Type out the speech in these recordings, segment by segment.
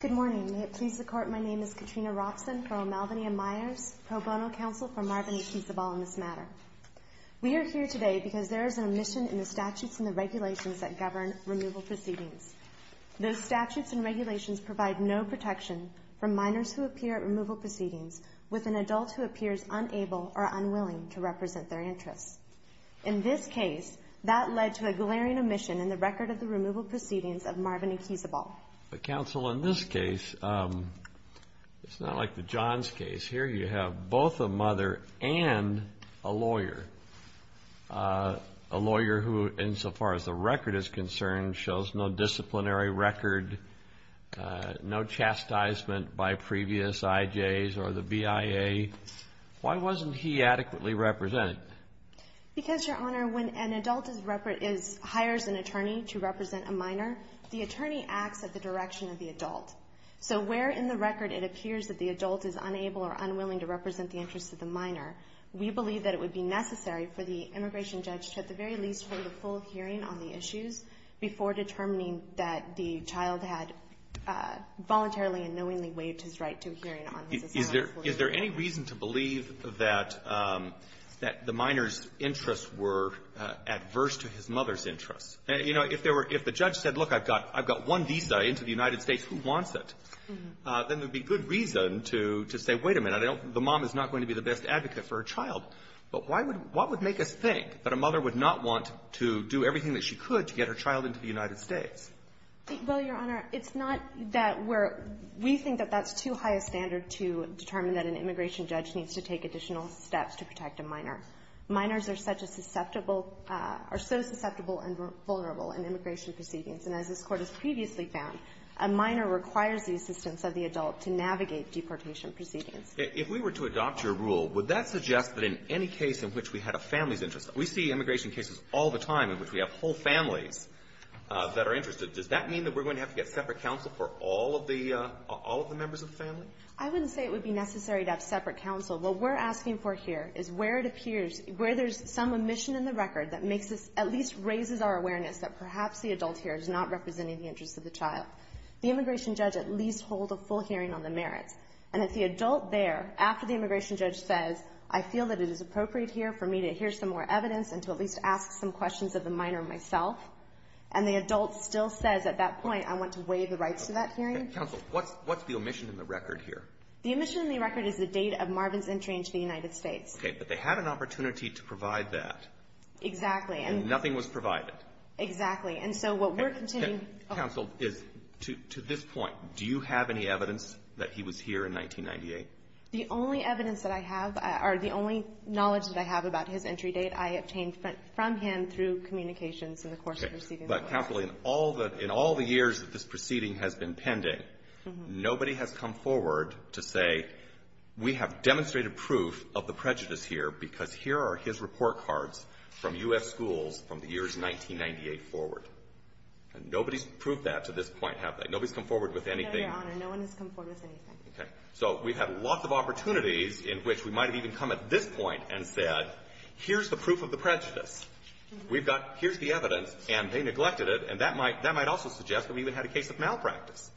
Good morning. May it please the Court, my name is Katrina Robson for O'Malveny and Myers, pro bono counsel for Marvin Equizabel in this matter. We are here today because there is an omission in the statutes and the regulations that govern removal proceedings. Those statutes and regulations provide no protection for minors who appear at removal proceedings with an adult who appears unable or unwilling to represent their interests. In this case, that led to a glaring omission in the record of the removal proceedings of Marvin Equizabel. But counsel, in this case, it's not like the Johns case. Here you have both a mother and a lawyer. A lawyer who, insofar as the record is concerned, shows no disciplinary record, no chastisement by previous IJs or the BIA. Why wasn't he adequately represented? Because, Your Honor, when an adult is repre — is — hires an attorney to represent a minor, the attorney acts at the direction of the adult. So where in the record it appears that the adult is unable or unwilling to represent the interests of the minor, we believe that it would be necessary for the immigration judge to at the very least hold a full hearing on the issues before determining that the child had voluntarily and knowingly waived his right to a hearing on his asylum. Is there any reason to believe that the minor's interests were adverse to his mother's interests? You know, if there were — if the judge said, look, I've got one visa into the United States, who wants it? Then there would be good reason to say, wait a minute, the mom is not going to be the best advocate for her child. But why would — what would make us think that a mother would not want to do everything that she could to determine that an immigration judge needs to take additional steps to protect a minor? Minors are such a susceptible — are so susceptible and vulnerable in immigration proceedings. And as this Court has previously found, a minor requires the assistance of the adult to navigate deportation proceedings. If we were to adopt your rule, would that suggest that in any case in which we had a family's interest — we see immigration cases all the time in which we have whole families that are interested. Does that mean that we're going to have to get separate counsel for all of the — all of the members of the family? I wouldn't say it would be necessary to have separate counsel. What we're asking for here is where it appears — where there's some omission in the record that makes us — at least raises our awareness that perhaps the adult here is not representing the interests of the child. The immigration judge at least holds a full hearing on the merits. And if the adult there, after the immigration judge says, I feel that it is appropriate here for me to hear some more evidence and to at least ask some questions of the minor myself, and the adult still says at that point, I want to give the rights to that hearing. Okay. Counsel, what's the omission in the record here? The omission in the record is the date of Marvin's entry into the United States. Okay. But they had an opportunity to provide that. Exactly. And nothing was provided. Exactly. And so what we're continuing — Counsel, to this point, do you have any evidence that he was here in 1998? The only evidence that I have, or the only knowledge that I have about his entry date, I obtained from him through communications in the course of proceeding but, capitally, in all the years that this proceeding has been pending, nobody has come forward to say, we have demonstrated proof of the prejudice here because here are his report cards from U.S. schools from the years 1998 forward. Nobody's proved that to this point, have they? Nobody's come forward with anything? No, Your Honor. No one has come forward with anything. Okay. So we've had lots of opportunities in which we might have even come at this point and said, here's the proof of the prejudice. We've got — here's the evidence, and they neglected it, and that might — that might also suggest that we even had a case of malpractice.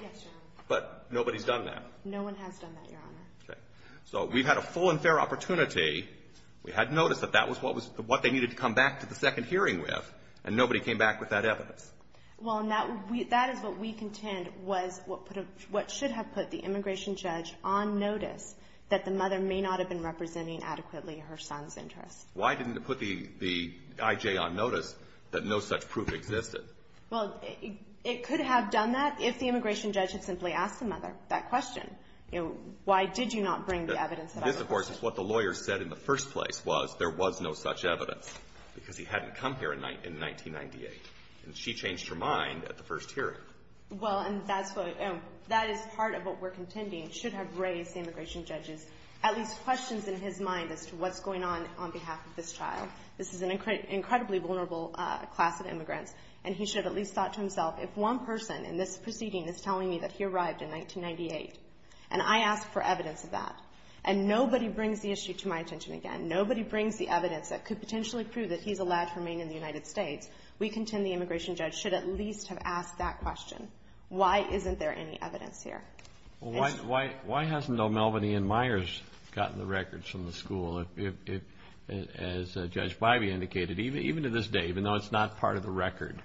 Yes, Your Honor. But nobody's done that. No one has done that, Your Honor. Okay. So we've had a full and fair opportunity. We had notice that that was what was — what they needed to come back to the second hearing with, and nobody came back with that evidence. Well, and that — that is what we contend was what put a — what should have put the immigration judge on notice that the mother may not have been representing adequately her son's interests. Why didn't it put the — the I.J. on notice that no such proof existed? Well, it could have done that if the immigration judge had simply asked the mother that question. You know, why did you not bring the evidence that I'm looking for? This, of course, is what the lawyer said in the first place was there was no such evidence because he hadn't come here in 1998. And she changed her mind at the first hearing. Well, and that's what — that is part of what we're contending should have raised the immigration judge's at least questions in his mind as to what's going on on behalf of this child. This is an incredibly vulnerable class of immigrants, and he should have at least thought to himself, if one person in this proceeding is telling me that he arrived in 1998, and I ask for evidence of that, and nobody brings the issue to my attention again, nobody brings the evidence that could potentially prove that he's allowed to remain in the United States, we contend the immigration judge should at least have asked that question. Why isn't there any evidence here? Well, why hasn't O'Melveny and Myers gotten the records from the school? As Judge Bybee indicated, even to this day, even though it's not part of the record,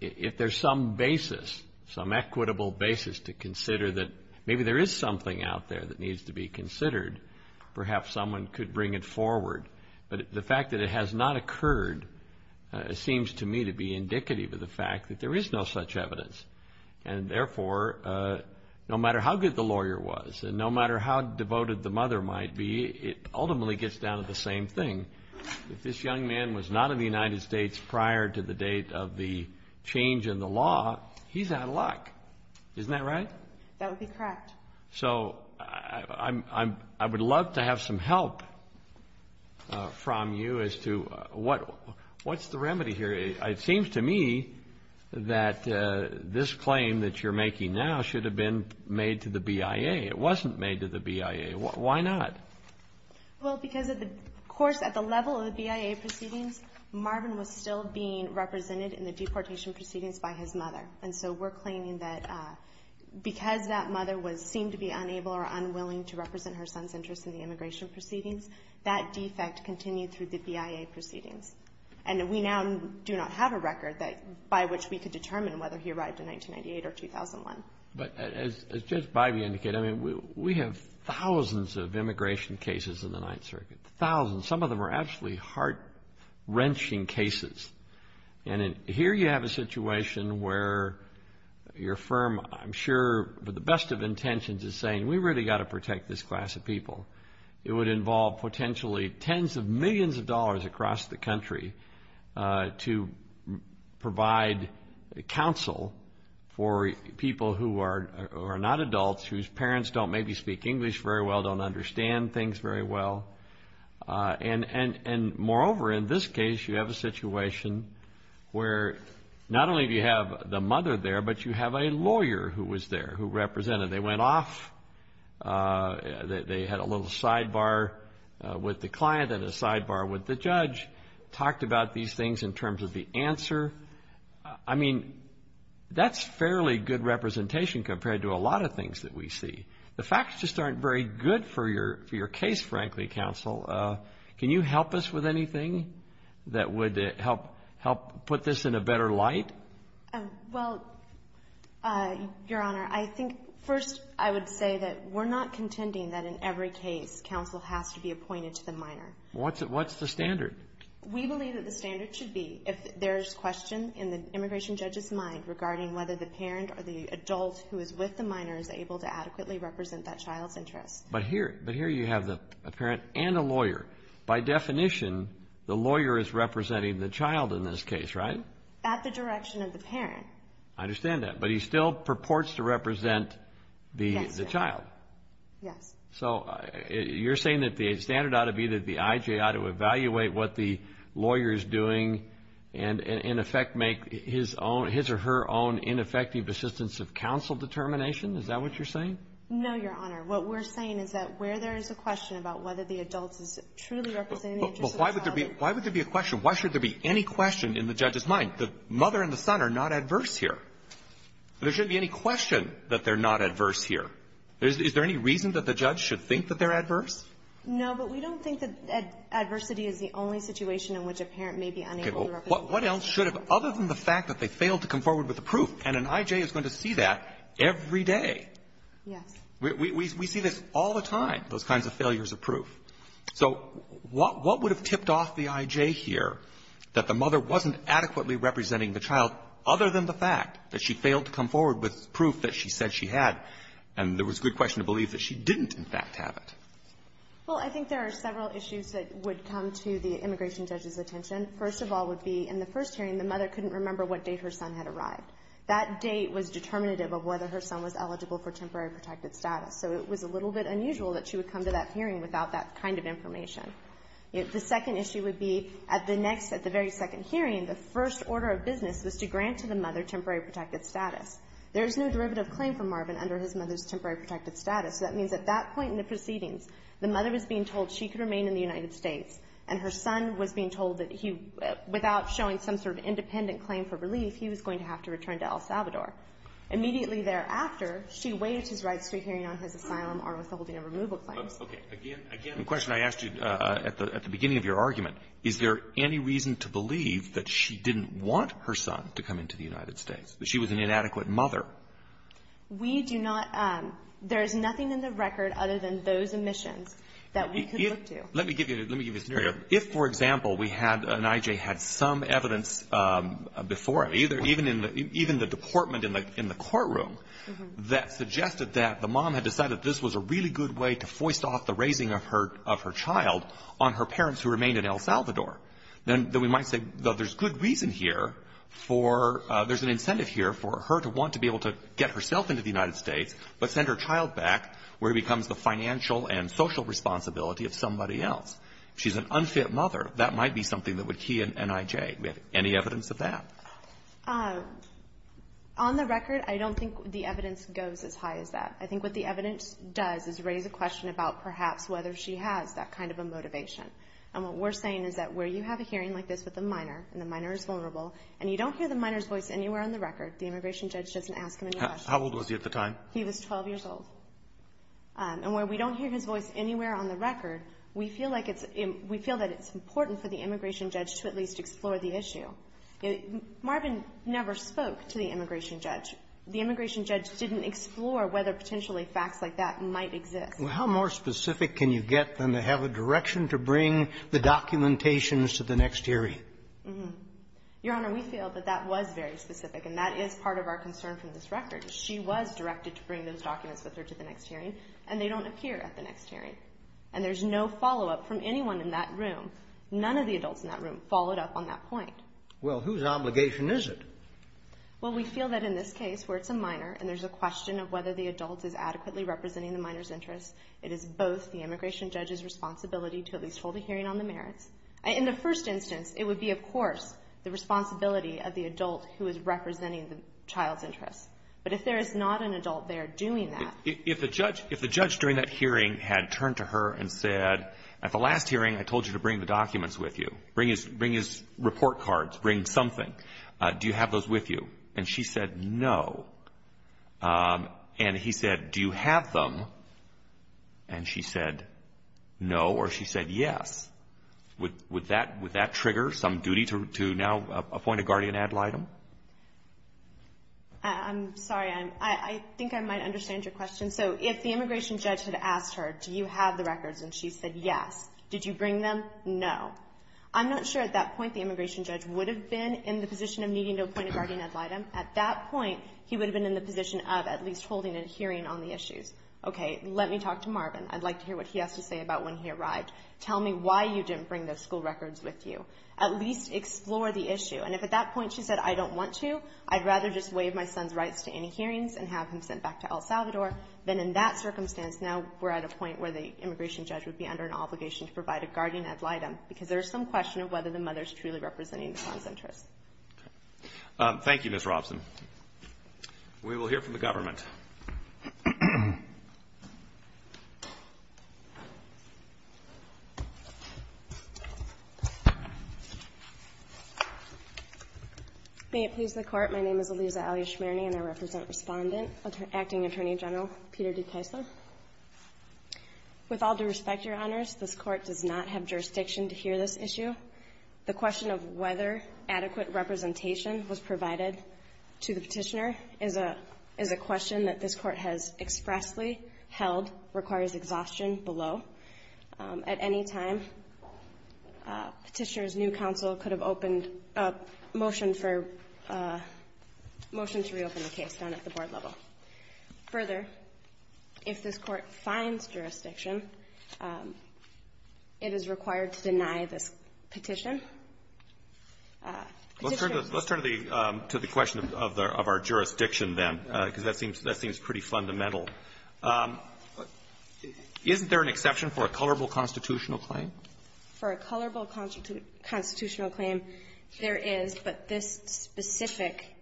if there's some basis, some equitable basis to consider that maybe there is something out there that needs to be considered, perhaps someone could bring it forward. But the fact that it has not occurred seems to me to be indicative of the fact that there is no such evidence. And therefore, no matter how good the lawyer was, and no matter how devoted the mother might be, it ultimately gets down to the same thing. If this young man was not in the United States prior to the date of the change in the law, he's out of luck. Isn't that right? That would be correct. So I would love to have some help from you as to what's the remedy here. It seems to me that this claim that you're making now should have been made to the BIA. It wasn't made to the BIA. Why not? Well, because of the course at the level of the BIA proceedings, Marvin was still being represented in the deportation proceedings by his mother. And so we're claiming that because that mother seemed to be unable or unwilling to represent her son's interests in the immigration proceedings, that defect continued through the BIA proceedings. And we now do not have a record by which we could determine whether he arrived in 1998 or 2001. But as Judge Bivey indicated, I mean, we have thousands of immigration cases in the Ninth Circuit, thousands. Some of them are absolutely heart-wrenching cases. And here you have a situation where your firm, I'm sure with the best of intentions, is saying, we really got to protect this class of people. It would involve potentially tens of millions of dollars across the country to provide counsel for people who are not adults, whose parents don't maybe speak English very well, don't understand things very well. And moreover, in this case, you have a situation where not only do you have the mother there, but you have a lawyer who was there, who represented. They went off. They had a little sidebar with the client and a sidebar with the judge, talked about these things in terms of the answer. I mean, that's fairly good representation compared to a lot of things that we see. The facts just aren't very good for your case, frankly, counsel. Can you help us with anything that would help put this in a better light? Well, Your Honor, I think first I would say that we're not contending that in every case counsel has to be appointed to the minor. What's the standard? We believe that the standard should be if there's question in the immigration judge's mind regarding whether the parent or the adult who is with the minor is able to adequately represent that child's interest. But here you have a parent and a lawyer. By definition, the lawyer is representing the child in this case, right? At the direction of the parent. I understand that. But he still purports to represent the child. Yes. So you're saying that the standard ought to be that the I.J. ought to evaluate what the lawyer is doing and in effect make his or her own ineffective assistance of counsel determination? Is that what you're saying? No, Your Honor. What we're saying is that where there is a question about whether the adult is truly representing the interest of the child. Why would there be a question? Why should there be any question in the judge's mind? The mother and the son are not adverse here. There shouldn't be any question that they're not adverse here. Is there any reason that the judge should think that they're adverse? No, but we don't think that adversity is the only situation in which a parent may be unable to represent the child. Okay. Well, what else should have, other than the fact that they failed to come forward with the proof? And an I.J. is going to see that every day. Yes. We see this all the time, those kinds of failures of proof. So what would have tipped off the I.J. here that the mother wasn't adequately representing the child, other than the fact that she failed to come forward with proof that she said she had, and there was good question to believe that she didn't, in fact, have it? Well, I think there are several issues that would come to the immigration judge's attention. First of all would be, in the first hearing, the mother couldn't remember what date her son had arrived. That date was determinative of whether her son was eligible for temporary protected status. So it was a little bit unusual that she would come to that hearing without that kind of information. The second issue would be, at the next, at the very second hearing, the first order of business was to grant to the mother temporary protected status. There is no derivative claim for Marvin under his mother's temporary protected status. So that means at that point in the proceedings, the mother was being told she could remain in the United States, and her son was being told that he, without showing some sort of independent claim for relief, he was going to have to return to El Salvador. Immediately thereafter, she waived his right to a hearing on his asylum or withholding a removal claim. Okay. Again, again, the question I asked you at the beginning of your argument, is there any reason to believe that she didn't want her son to come into the United States, that she was an inadequate mother? We do not. There is nothing in the record other than those omissions that we could look to. Let me give you a scenario. If, for example, we had an I.J. had some evidence before him, even in the department in the courtroom, that suggested that the mom had decided this was a really good way to foist off the raising of her child on her parents who remained in El Salvador, then we might say, well, there's good reason here for — there's an incentive here for her to want to be able to get herself into the United States, but send her child back where he becomes the financial and social responsibility of somebody else. If she's an unfit mother, that might be something that would key an I.J. Do we have any evidence of that? On the record, I don't think the evidence goes as high as that. I think what the evidence does is raise a question about perhaps whether she has that kind of a motivation. And what we're saying is that where you have a hearing like this with a minor, and the minor is vulnerable, and you don't hear the minor's voice anywhere on the record, the immigration judge doesn't ask him any questions. How old was he at the time? He was 12 years old. And where we don't hear his voice anywhere on the record, we feel like it's — we feel that it's important for the immigration judge to at least explore the issue. Marvin never spoke to the immigration judge. The immigration judge didn't explore whether potentially facts like that might exist. Well, how more specific can you get than to have a direction to bring the documentations to the next hearing? Mm-hmm. Your Honor, we feel that that was very specific, and that is part of our concern from this record. She was directed to bring those documents with her to the next hearing, and they don't appear at the next hearing. And there's no follow-up from anyone in that room. None of the adults in that room followed up on that point. Well, whose obligation is it? Well, we feel that in this case, where it's a minor and there's a question of whether the adult is adequately representing the minor's interests, it is both the immigration judge's responsibility to at least hold a hearing on the merits. In the first instance, it would be, of course, the responsibility of the adult who is representing the child's interests. But if there is not an adult there doing that — If the judge — if the judge during that hearing had turned to her and said, at the last hearing, I told you to bring the documents with you. Bring his report cards. Bring something. Do you have those with you? And she said, no. And he said, do you have them? And she said, no. Or she said, yes. Would that trigger some duty to now appoint a guardian ad litem? I'm sorry. I think I might understand your question. So if the immigration judge had asked her, do you have the records? And she said, yes. Did you bring them? No. I'm not sure at that point the immigration judge would have been in the position of needing to appoint a guardian ad litem. At that point, he would have been in the position of at least holding a hearing on the issues. Okay. Let me talk to Marvin. I'd like to hear what he has to say about when he arrived. Tell me why you didn't bring those school records with you. At least explore the issue. And if at that point she said, I don't want to, I'd rather just waive my son's rights to any hearings and have him sent back to El Salvador, then in that circumstance, now we're at a point where the immigration judge would be under an obligation to provide a guardian ad litem, because there's some question of whether the mother is truly representing the son's interests. Thank you, Ms. Robson. We will hear from the government. May it please the Court. My name is Elisa Alya Shmierny, and I represent Respondent Acting Attorney General Peter DeCaesa. With all due respect, Your Honors, this Court does not have jurisdiction to hear this issue. The question of whether adequate held requires exhaustion below. At any time, Petitioner's new counsel could have opened a motion for a motion to reopen the case down at the board level. Further, if this Court finds jurisdiction, it is required to deny this petition. Let's turn to the question of our jurisdiction, then, because that seems pretty fundamental. Isn't there an exception for a colorable constitutional claim? For a colorable constitutional claim, there is, but this specific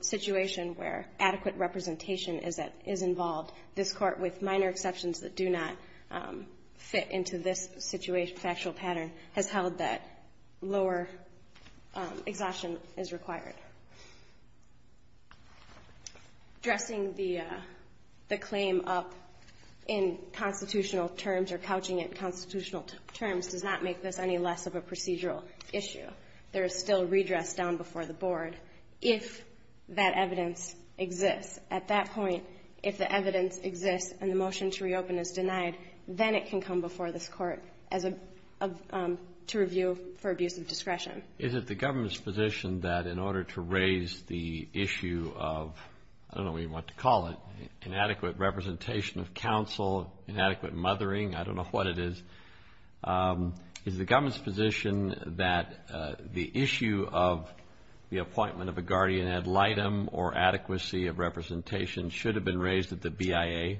situation where adequate representation is involved, this Court, with minor exceptions that do not fit into this situation, factual pattern, has held that lower exhaustion is required. Dressing the claim up in constitutional terms or couching it in constitutional terms does not make this any less of a procedural issue. There is still redress down before the board if that evidence exists. At that point, if the evidence exists and the motion to reopen is denied, then it can come before this Court as a review for abuse of discretion. Is it the government's position that in order to raise the issue of, I don't know what you want to call it, inadequate representation of counsel, inadequate mothering, I don't know what it is, is the government's position that the issue of the appointment of a guardian ad litem or adequacy of representation should have been raised at the BIA?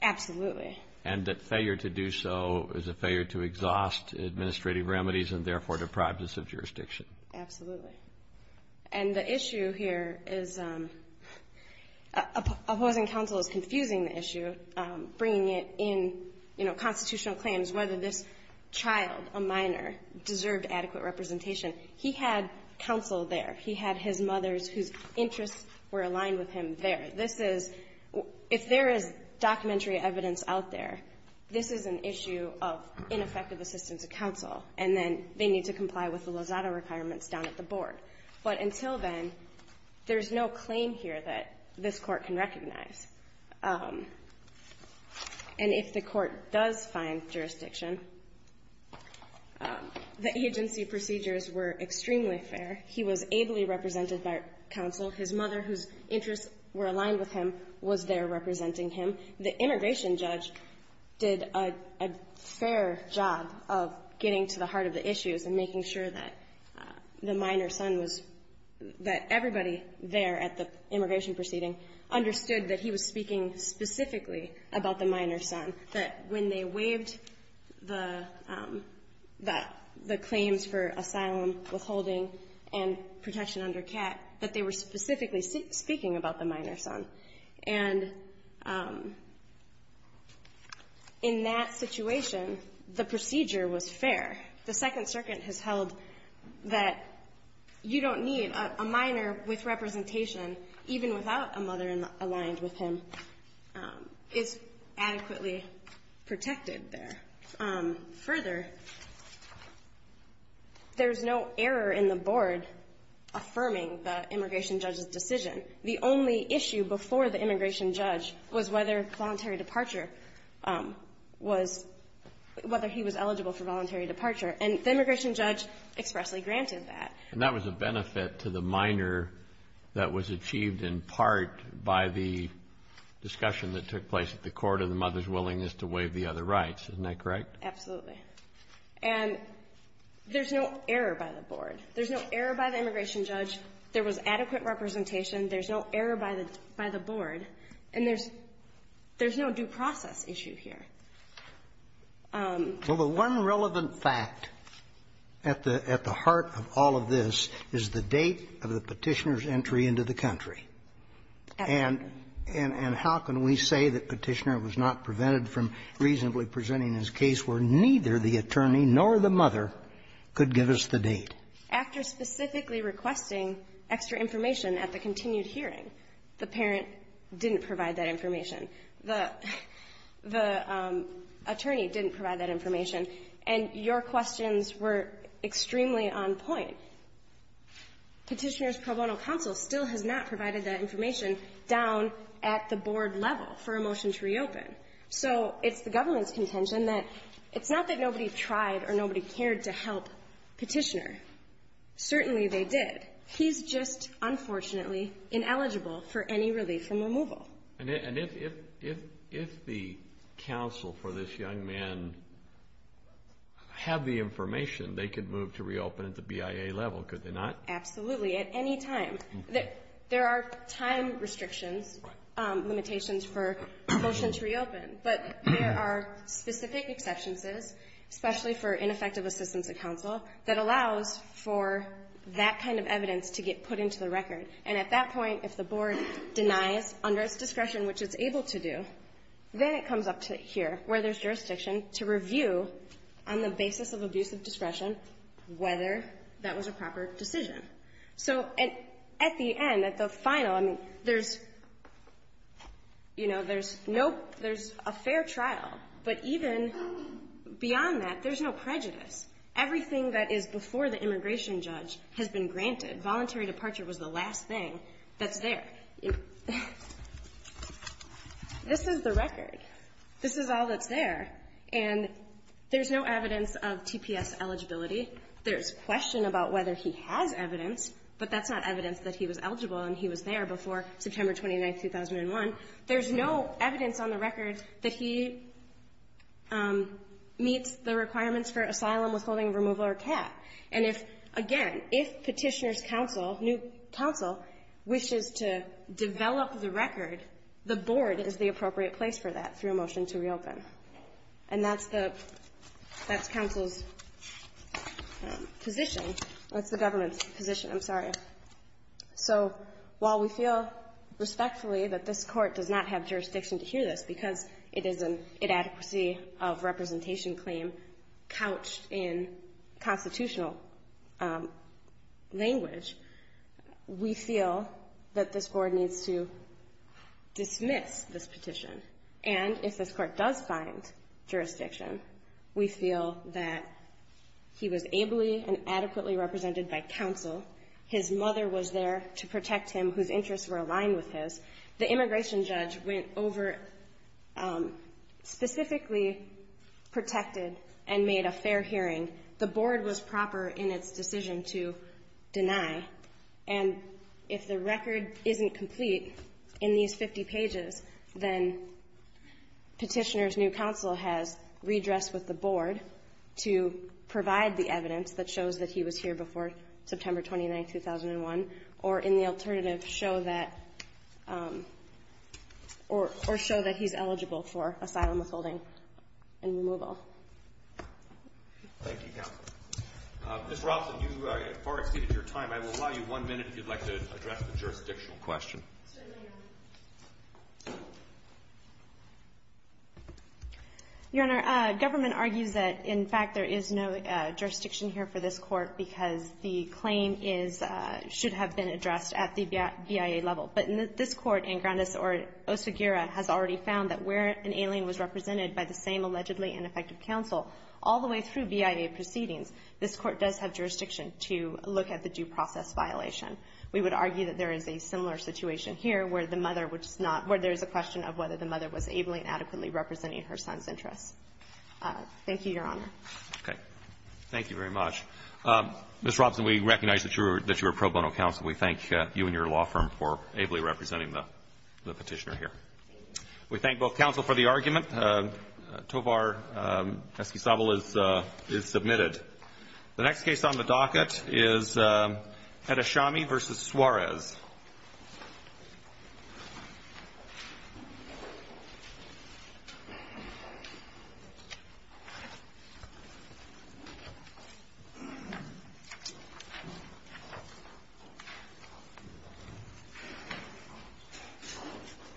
Absolutely. And that failure to do so is a failure to exhaust administrative remedies and, therefore, deprive us of jurisdiction? Absolutely. And the issue here is opposing counsel is confusing the issue, bringing it in, you know, constitutional claims, whether this child, a minor, deserved adequate representation. He had counsel there. He had his mothers whose interests were aligned with him there. This is, if there is documentary evidence out there, this is an issue of ineffective assistance of counsel, and then they need to comply with the Lozada requirements down at the board. But until then, there's no claim here that this Court can recognize. And if the Court does find jurisdiction, the agency procedures were extremely fair. He was ably represented by counsel. His mother, whose interests were aligned with him, was there representing him. The immigration judge did a fair job of getting to the heart of the issues and making sure that the minor son was — that everybody there at the immigration proceeding understood that he was speaking specifically about the minor son, that when they waived the claims for asylum, withholding, and protection under CAT, that they were specifically speaking about the minor son. And in that situation, the procedure was fair. The Second Circuit has held that you don't need a minor with representation, even without a mother aligned with him, is adequately protected there. Further, there's no error in the board affirming the immigration judge's decision. The only issue before the immigration judge was whether voluntary departure was — whether he was eligible for voluntary departure. And the immigration judge expressly granted that. And that was a benefit to the minor that was achieved in part by the discussion that took place at the court and the mother's willingness to waive the other rights. Isn't that correct? Absolutely. And there's no error by the board. There's no error by the immigration judge. There was adequate representation. There's no error by the board. And there's no due process issue here. Well, the one relevant fact at the heart of all of this is the date of the Petitioner's entry into the country. Absolutely. And how can we say that Petitioner was not prevented from reasonably presenting his case where neither the attorney nor the mother could give us the date? After specifically requesting extra information at the continued hearing, the parent didn't provide that information. The attorney didn't provide that information. And your questions were extremely on point. Petitioner's pro bono counsel still has not provided that information down at the board level for a motion to reopen. So it's the government's contention that it's not that nobody tried or nobody cared to help Petitioner. Certainly they did. He's just, unfortunately, ineligible for any relief from removal. And if the counsel for this young man had the information, they could move to reopen at the BIA level, could they not? Absolutely. At any time. There are time restrictions, limitations for a motion to reopen. But there are specific exceptions, especially for ineffective assistance at counsel, that allows for that kind of evidence to get put into the record. And at that point, if the board denies under its discretion, which it's able to do, then it comes up to here, where there's jurisdiction, to review on the basis of abuse of discretion whether that was a proper decision. So at the end, at the final, I mean, there's, you know, there's no – there's a fair trial. But even beyond that, there's no prejudice. Everything that is before the immigration judge has been granted. Voluntary departure was the last thing that's there. This is the record. This is all that's there. And there's no evidence of TPS eligibility. There's question about whether he has evidence, but that's not evidence that he was eligible and he was there before September 29, 2001. There's no evidence on the record that he meets the requirements for asylum withholding removal or cap. And if, again, if Petitioner's counsel, new counsel, wishes to develop the record, the board is the appropriate place for that through a motion to reopen. And that's the – that's counsel's position. That's the government's position. I'm sorry. So while we feel respectfully that this court does not have jurisdiction to hear this because it is an inadequacy of representation claim couched in constitutional language, we feel that this board needs to dismiss this petition. And if this court does find jurisdiction, we feel that he was ably and adequately represented by counsel. His mother was there to protect him, whose interests were aligned with his. The immigration judge went over, specifically protected and made a fair hearing. The board was proper in its decision to deny. And if the record isn't complete in these 50 pages, then Petitioner's new counsel has redress with the board to provide the evidence that shows that he was here before September 29, 2001, or in the alternative, show that – or show that he's eligible for asylum withholding and removal. Thank you, counsel. Ms. Roslin, you have far exceeded your time. I will allow you one minute if you'd like to address the jurisdictional question. Certainly, Your Honor. Your Honor, government argues that, in fact, there is no jurisdiction here for this court because the claim is – should have been addressed at the BIA level. But this court in Grandes or Osagira has already found that where an alien was through BIA proceedings, this court does have jurisdiction to look at the due process violation. We would argue that there is a similar situation here where the mother was not – where there is a question of whether the mother was ably and adequately representing her son's interests. Thank you, Your Honor. Okay. Thank you very much. Ms. Roslin, we recognize that you're a pro bono counsel. We thank you and your law firm for ably representing the Petitioner here. We thank both counsel for the argument. Tovar Eskisabl is submitted. The next case on the docket is Edashami v. Suarez.